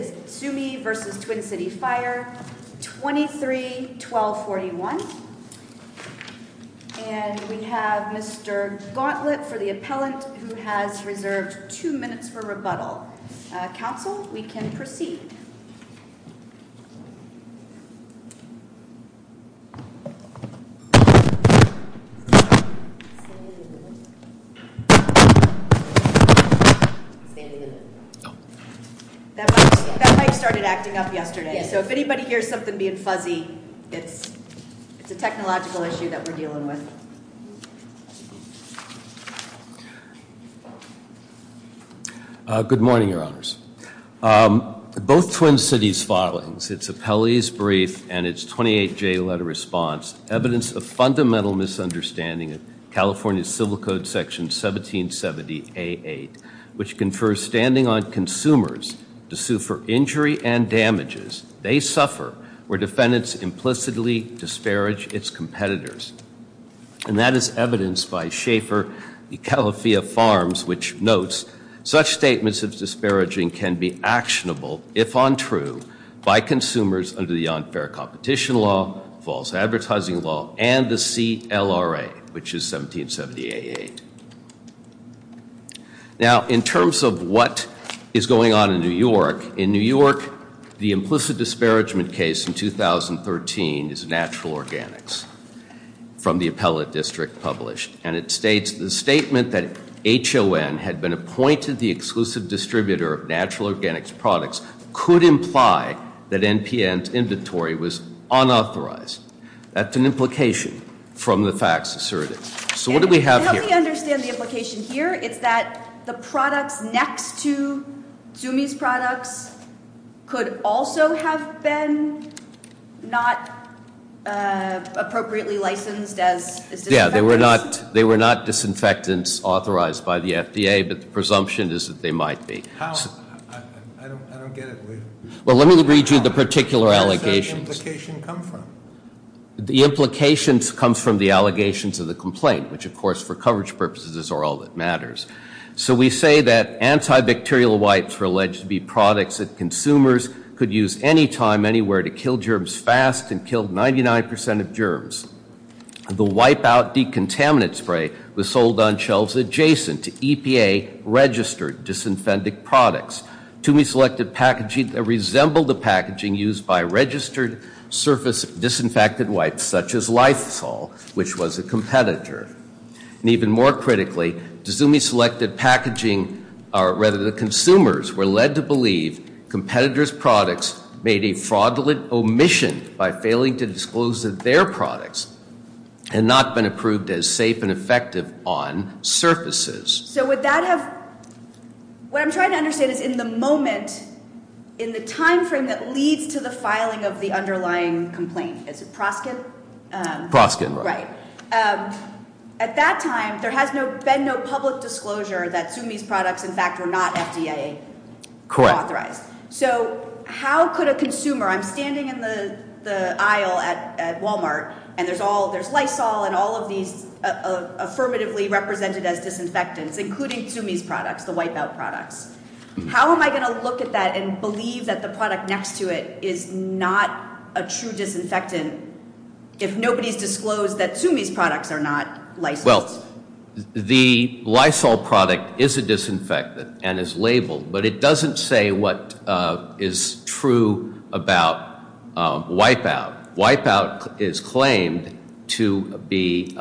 23-1241 That mic started acting up yesterday. So if anybody hears something being fuzzy, it's a technological issue that we're dealing with. Good morning, Your Honors. Both Twin Cities filings, its appellee's brief and its 28-J letter response, evidence of fundamental misunderstanding of California's Civil Code Section 1770A8, which confers standing on consumers to sue for injury and damages, they suffer where defendants implicitly disparage its competitors. And that is evidenced by Schaefer, the Calafia Farms, which notes such statements of disparaging can be actionable, if untrue, by consumers under the unfair competition law, false advertising law, and the CLRA, which is 1770A8. Now, in terms of what is going on in New York, in New York, the implicit disparagement case in 2013 is natural organics from the appellate district published. And it states the statement that HON had been appointed the exclusive distributor of natural organics products could imply that NPN's inventory was unauthorized. That's an implication from the facts asserted. So what do we have here? I don't understand the implication here. It's that the products next to Zumi's products could also have been not appropriately licensed as disinfectants? Yeah, they were not disinfectants authorized by the FDA, but the presumption is that they might be. How? I don't get it. Well, let me read you the particular allegations. Where does that implication come from? The implications come from the allegations of the complaint, which of course for coverage purposes is all that matters. So we say that antibacterial wipes were alleged to be products that consumers could use anytime, anywhere to kill germs fast and killed 99% of germs. The wipe-out decontaminant spray was sold on shelves adjacent to EPA registered disinfectant products. Zumi selected packaging that resembled the packaging used by registered surface disinfectant wipes such as Lysol, which was a competitor. And even more critically, the Zumi selected packaging, or rather the consumers, were led to believe competitors' products made a fraudulent omission by failing to disclose that their products had not been approved as safe and effective on surfaces. So would that have, what I'm trying to understand is in the moment, in the time frame that leads to the filing of the underlying complaint, is it Proskin? Proskin, right. At that time, there has been no public disclosure that Zumi's products in fact were not FDA authorized. Correct. So how could a consumer, I'm standing in the aisle at Walmart and there's Lysol and all of these affirmatively represented as disinfectants, including Zumi's products, the wipe-out products. How am I going to look at that and believe that the product next to it is not a true disinfectant if nobody's disclosed that Zumi's products are not licensed? Well, the Lysol product is a disinfectant and is labeled, but it doesn't say what is true about wipe-out. Wipe-out is claimed to be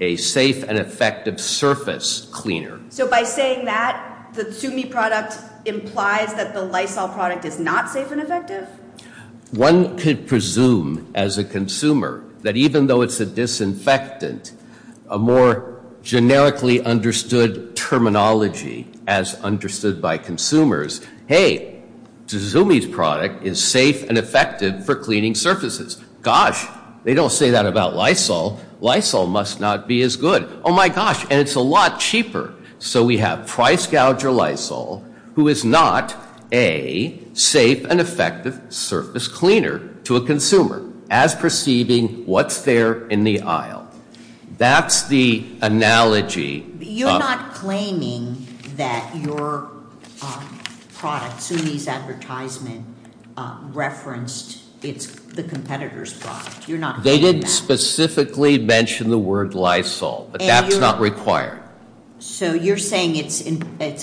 a safe and effective surface cleaner. So by saying that, the Zumi product implies that the Lysol product is not safe and effective? One could presume as a consumer that even though it's a disinfectant, a more generically understood terminology as understood by consumers, hey, Zumi's product is safe and effective for cleaning surfaces. Gosh, they don't say that about Lysol. Lysol must not be as good. Oh my gosh, and it's a lot cheaper. So we have Price Gouger Lysol who is not a safe and effective surface cleaner to a consumer as perceiving what's there in the aisle. That's the analogy. You're not referencing the competitor's product. They didn't specifically mention the word Lysol, but that's not required. So you're saying it's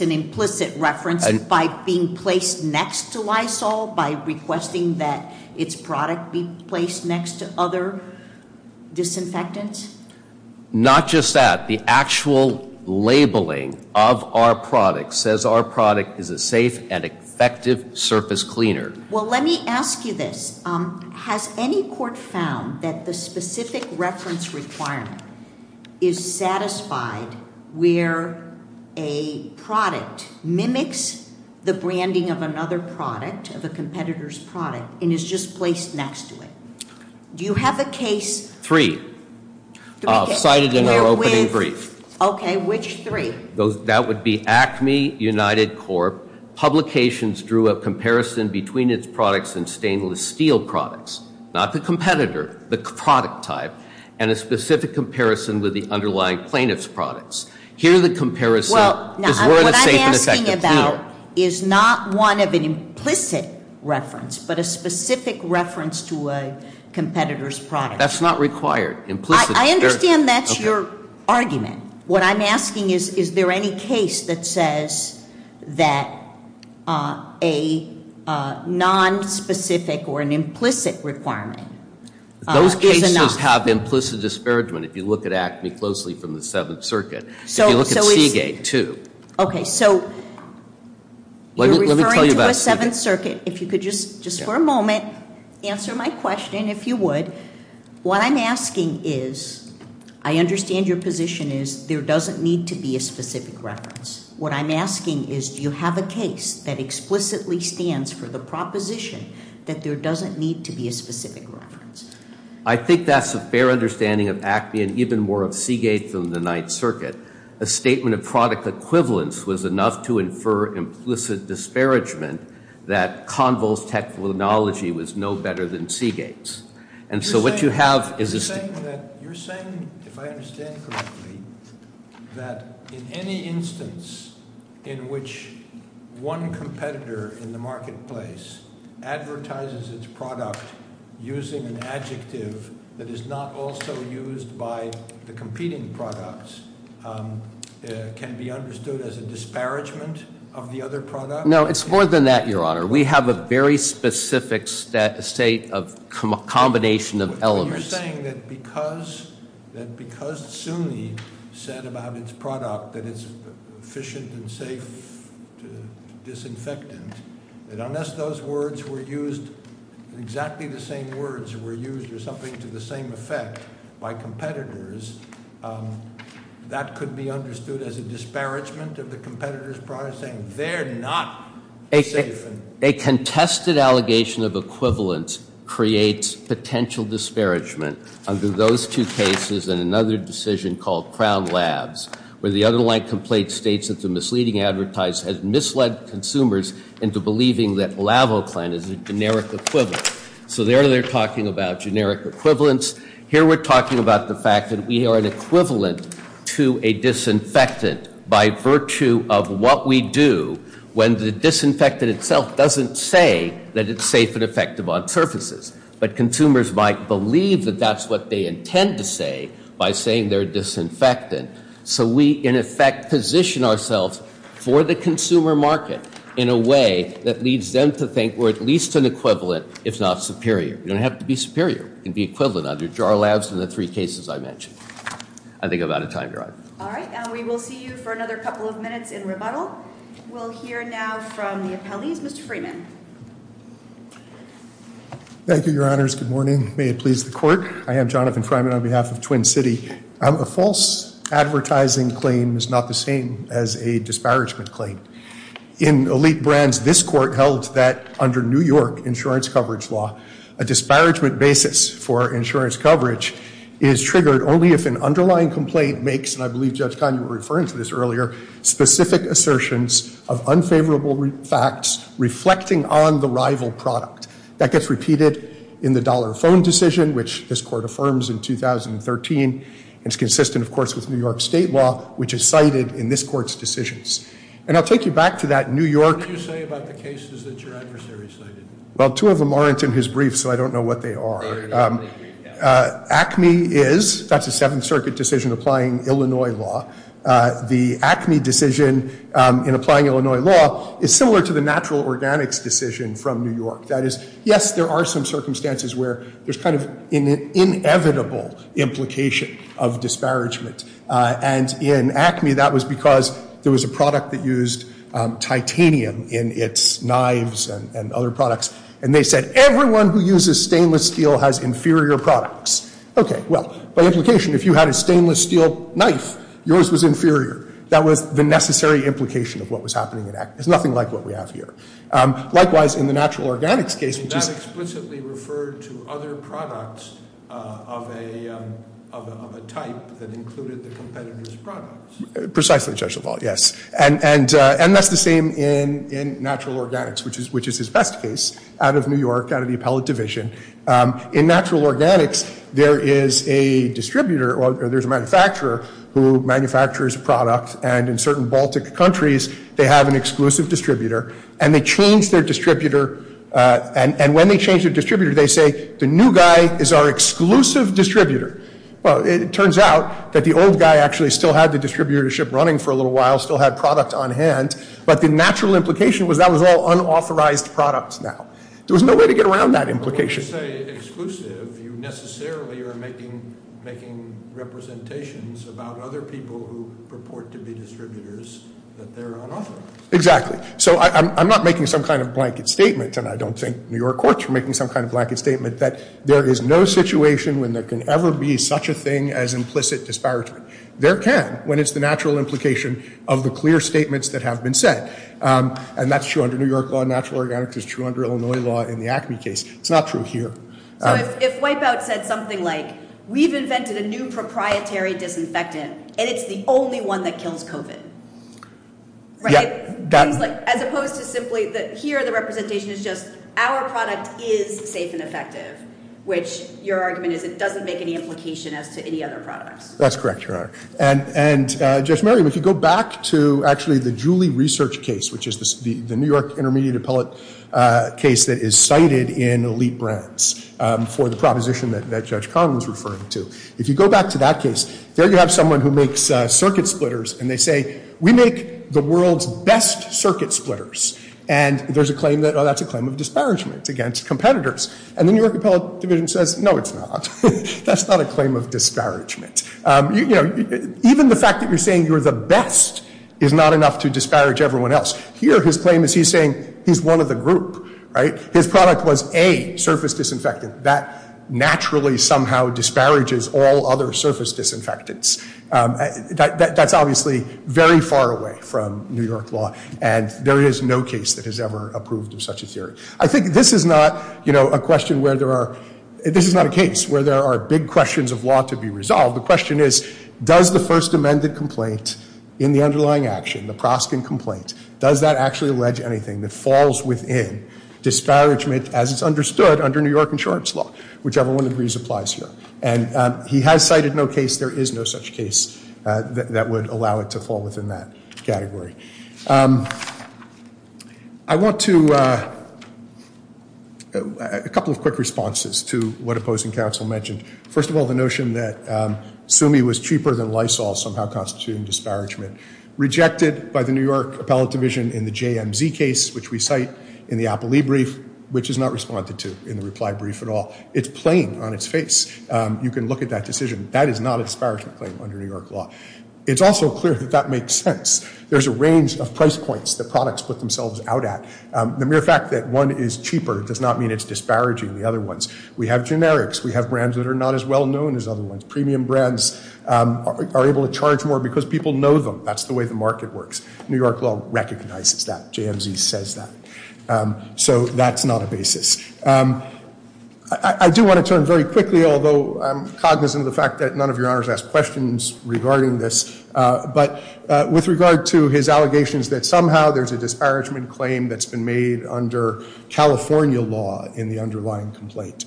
an implicit reference by being placed next to Lysol, by requesting that its product be placed next to other disinfectants? Not just that. The actual labeling of our product says our product is a safe and effective surface cleaner. Well, let me ask you this. Has any court found that the specific reference requirement is satisfied where a product mimics the branding of another product, of a competitor's product, and is just placed next to it? Do you agree? That would be ACME, United Corp. Publications drew a comparison between its products and stainless steel products, not the competitor, the product type, and a specific comparison with the underlying plaintiff's products. Here the comparison is safe and effective. What I'm asking about is not one of an implicit reference, but a specific reference to a competitor's product. That's not required. I understand that's your argument. What I'm asking is, is there any case that says that a non-specific or an implicit requirement is enough? Those cases have implicit disparagement if you look at ACME closely from the Seventh Circuit. If you look at Seagate, too. Okay, so you're referring to the Seventh Circuit. If you could just for a moment answer my question, if you would. What I'm asking is, I understand your position is there doesn't need to be a specific reference. What I'm asking is, do you have a case that explicitly stands for the proposition that there doesn't need to be a specific reference? I think that's a fair understanding of ACME and even more of Seagate than the Ninth Circuit. A statement of product equivalence was enough to infer implicit disparagement that Convo's technology was no better than Seagate's. And so what you have is... You're saying that, you're saying, if I understand correctly, that in any instance in which one competitor in the marketplace advertises its product using an adjective that is not also used by the competing products can be understood as a disparagement of the other product? No, it's more than that, Your Honor. We have a very specific state of combination of elements. So you're saying that because SUNY said about its product that it's efficient and safe disinfectant, that unless those words were used, exactly the same words were used or something to the same effect by competitors, that could be understood as a disparagement of the competitor's product, saying they're not safe? A contested allegation of equivalence creates potential disparagement under those two cases and another decision called Crown Labs, where the underlying complaint states that the misleading advertise has misled consumers into believing that LavoClan is a generic equivalent. So there they're talking about generic equivalence. Here we're talking about the fact that we are an equivalent to a disinfectant by virtue of what we do when the disinfectant itself doesn't say that it's safe and effective on surfaces. But consumers might believe that that's what they intend to say by saying they're disinfectant. So we, in effect, position ourselves for the consumer market in a way that leads them to think we're at least an equivalent, if not superior. You don't have to be superior. You can be equivalent under Jar Labs and the three cases I mentioned. I think I'm out of time, Your Honor. All right. We will see you for another couple of minutes in rebuttal. We'll hear now from the appellees. Mr. Freeman. Thank you, Your Honors. Good morning. May it please the Court. I am Jonathan Freeman on behalf of Twin City. A false advertising claim is not the same as a disparagement claim. In Elite Brands, this Court held that under New York insurance coverage law, a disparagement claim under New York insurance coverage is triggered only if an underlying complaint makes, and I believe Judge Kanye was referring to this earlier, specific assertions of unfavorable facts reflecting on the rival product. That gets repeated in the dollar phone decision, which this Court affirms in 2013. It's consistent, of course, with New York state law, which is cited in this Court's decisions. And I'll take you back to that New York What do you say about the cases that your adversary cited? Well, two of them aren't in his brief, so I don't know what they are. ACME is, that's a Seventh Circuit decision applying Illinois law. The ACME decision in applying Illinois law is similar to the natural organics decision from New York. That is, yes, there are some circumstances where there's kind of an inevitable implication of in its knives and other products. And they said, everyone who uses stainless steel has inferior products. Okay, well, by implication, if you had a stainless steel knife, yours was inferior. That was the necessary implication of what was happening. It's nothing like what we have here. Likewise, in the natural organics case, that explicitly referred to other products of a type that included the competitor's products. Precisely, Judge LaValle, yes. And that's the same in natural organics, which is his best case, out of New York, out of the appellate division. In natural organics, there is a distributor, or there's a manufacturer, who manufactures a product, and in certain Baltic countries, they have an exclusive distributor. And they change their distributor, and when they change their distributor, they say, the new guy is our exclusive distributor. Well, it turns out that the old guy actually still had the distributorship running for a little while, still had product on hand, but the natural implication was that was all unauthorized products now. There was no way to get around that implication. When you say exclusive, you necessarily are making representations about other people who purport to be distributors that they're unauthorized. Exactly. So I'm not making some kind of blanket statement, and I don't think New York courts are making some kind of blanket statement, that there is no situation when there can ever be such a thing as implicit disparagement. There can, when it's the natural implication of the clear statements that are in the Acme case. It's not true here. So if Wipeout said something like, we've invented a new proprietary disinfectant, and it's the only one that kills COVID. Right? As opposed to simply that here the representation is just, our product is safe and effective, which your argument is it doesn't make any implication as to any other products. That's correct, Your Honor. And Judge Merriam, if you go back to actually the Julie Research case, which is the New York Intermediate Appellate case that is cited in Elite Brands for the proposition that Judge Kahn was referring to. If you go back to that case, there you have someone who makes circuit splitters, and they say, we make the world's best circuit splitters. And there's a claim that, oh, that's a claim of disparagement against competitors. And the New York Appellate Division says, no, it's not. That's not a claim of disparagement. Even the fact that you're saying you're the best is not enough to disparage everyone else. Here his claim is he's saying he's one of the group. Right? His product was A, surface disinfectant. That naturally somehow disparages all other surface disinfectants. That's obviously very far away from New York law, and there is no case that has ever approved of such a theory. I think this is not a question where there are big questions of law to be resolved. The question is, does the first amended complaint in the underlying action, the Proskin complaint, does that actually allege anything that falls within disparagement as it's understood under New York insurance law? Whichever one of these applies here. And he has cited no case. There is no such case that would allow it to fall within that category. I want to, a couple of quick responses to what opposing counsel mentioned. First of all, the notion that Sumi was cheaper than Lysol, somehow constituting disparagement. Rejected by the New York Appellate Division in the JMZ case, which we cite in the Applee brief, which is not responded to in the reply brief at all. It's plain on its face. You can look at that decision. That is not a disparagement claim under New York law. It's also clear that that makes sense. There's a range of price points that products put themselves out at. The mere fact that one is cheaper does not mean it's disparaging the other ones. We have generics. We have brands that are not as well known as other ones. Premium brands are able to charge more because people know them. That's the way the market works. New York law recognizes that. JMZ says that. So that's not a basis. I do want to turn very quickly, although I'm cognizant of the fact that none of your honors asked questions regarding this, but with regard to his allegations that somehow there's a disparagement claim that's been made under California law in the underlying complaint.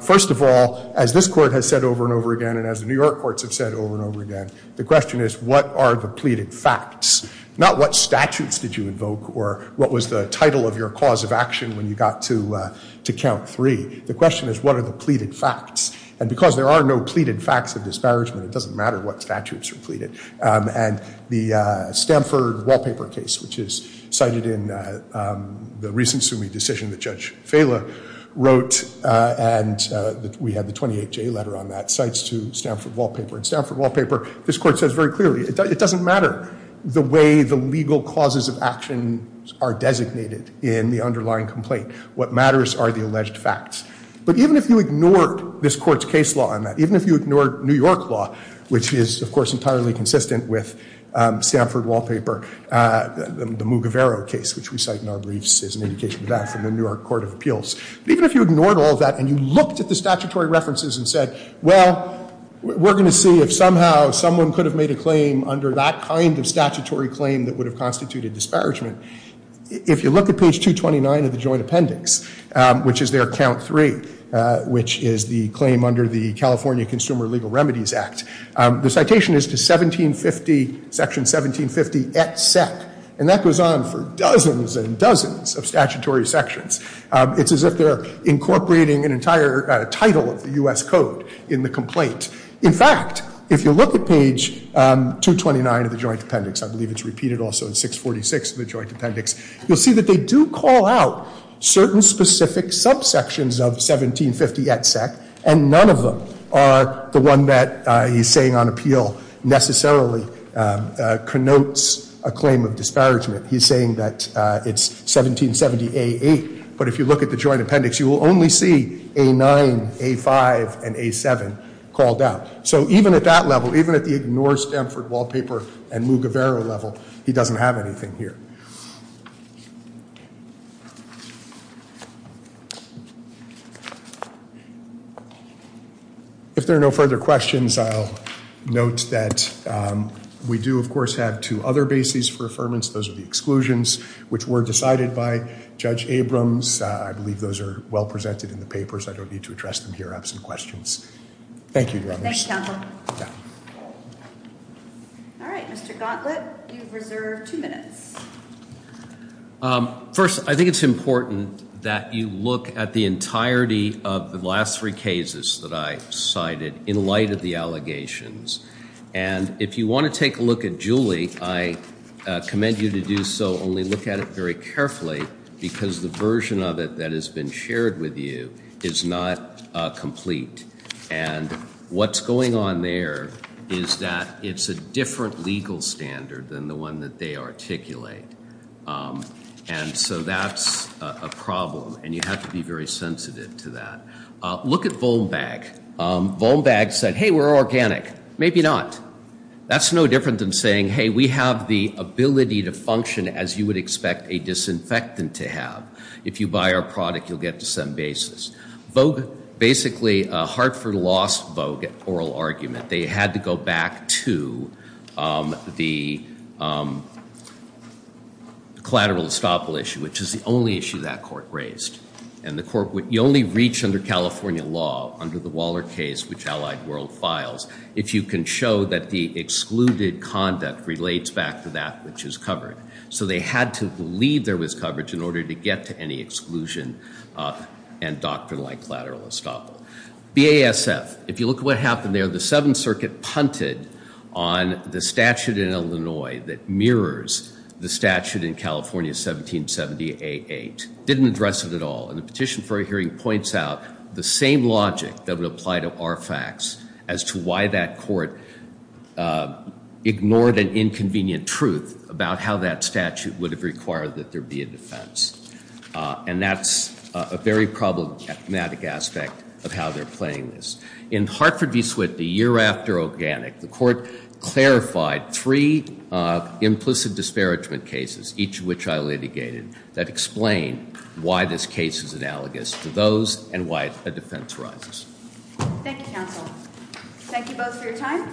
First of all, as this court has said over and over again, and as the New York courts have said over and over again, the question is, what are the pleaded facts? Not what statutes did you invoke or what was the title of your cause of action when you got to count three. The question is, what are the pleaded facts? And because there are no pleaded facts of disparagement, it doesn't matter what statutes are pleaded. And the Stanford wallpaper case, which is cited in the recent Sumi decision that Judge Fela wrote, and we had the 28J letter on that, cites to Stanford wallpaper. And Stanford wallpaper, this court says very clearly, it doesn't matter the way the legal causes of action are designated in the underlying complaint. What matters are the alleged facts. But even if you ignored this court's case law on that, even if you ignored New York law, which is of course entirely consistent with Stanford wallpaper, the Mugavero case, which we cite in our briefs as an indication of that from the New York Court of Appeals, even if you ignored all that and you looked at the statutory references and said, well, we're going to see if somehow someone could have made a claim under that kind of statutory claim that would have constituted disparagement. If you look at page 229 of the joint appendix, which is their The citation is to section 1750 et sec. And that goes on for dozens and dozens of statutory sections. It's as if they're incorporating an entire title of the U.S. Code in the complaint. In fact, if you look at page 229 of the joint appendix, I believe it's repeated also in 646 of the joint appendix, you'll see that they do call out certain specific subsections of 1750 et sec. And none of them are the one that he's saying on appeal necessarily connotes a claim of disparagement. He's saying that it's 1770A8. But if you look at the joint appendix, you will only see A9, A5, and A7 called out. So even at that level, even at the ignore Stanford wallpaper and Mugavero level, he doesn't have anything here. If there are no further questions, I'll note that we do, of course, have two other bases for affirmance. Those are the exclusions which were decided by Judge Abrams. I believe those are well presented in the papers. I don't need to address them here. I have some questions. Thank you. Thank you, counsel. First, I think it's important that you look at the entirety of the last three cases that I cited in light of the allegations. And if you want to take a look at Julie, I commend you to do so. Only look at it very carefully because the version of it that has been shared with you is not complete. And what's going on there is that it's a different legal standard than the one that they articulate. And so that's a problem. And you have to be very sensitive to that. Look at Volbag. Volbag said, hey, we're organic. Maybe not. That's no different than saying, hey, we have the same basis. Basically, Hartford lost Volbag at oral argument. They had to go back to the collateral estoppel issue, which is the only issue that court raised. And you only reach under California law, under the Waller case, which Allied World files, if you can show that the excluded conduct relates back to that which was covered. So they had to believe there was coverage in order to get to any exclusion and doctrine like collateral estoppel. BASF. If you look at what happened there, the Seventh Circuit punted on the statute in Illinois that mirrors the statute in California 1770 A8. Didn't address it at all. And the petition for a hearing points out the same logic that would apply to more facts as to why that court ignored an inconvenient truth about how that statute would have required that there be a defense. And that's a very problematic aspect of how they're playing this. In Hartford v. Switney, a year after Organic, the court clarified three implicit disparagement cases, each of which I litigated, that Thank you both for your time.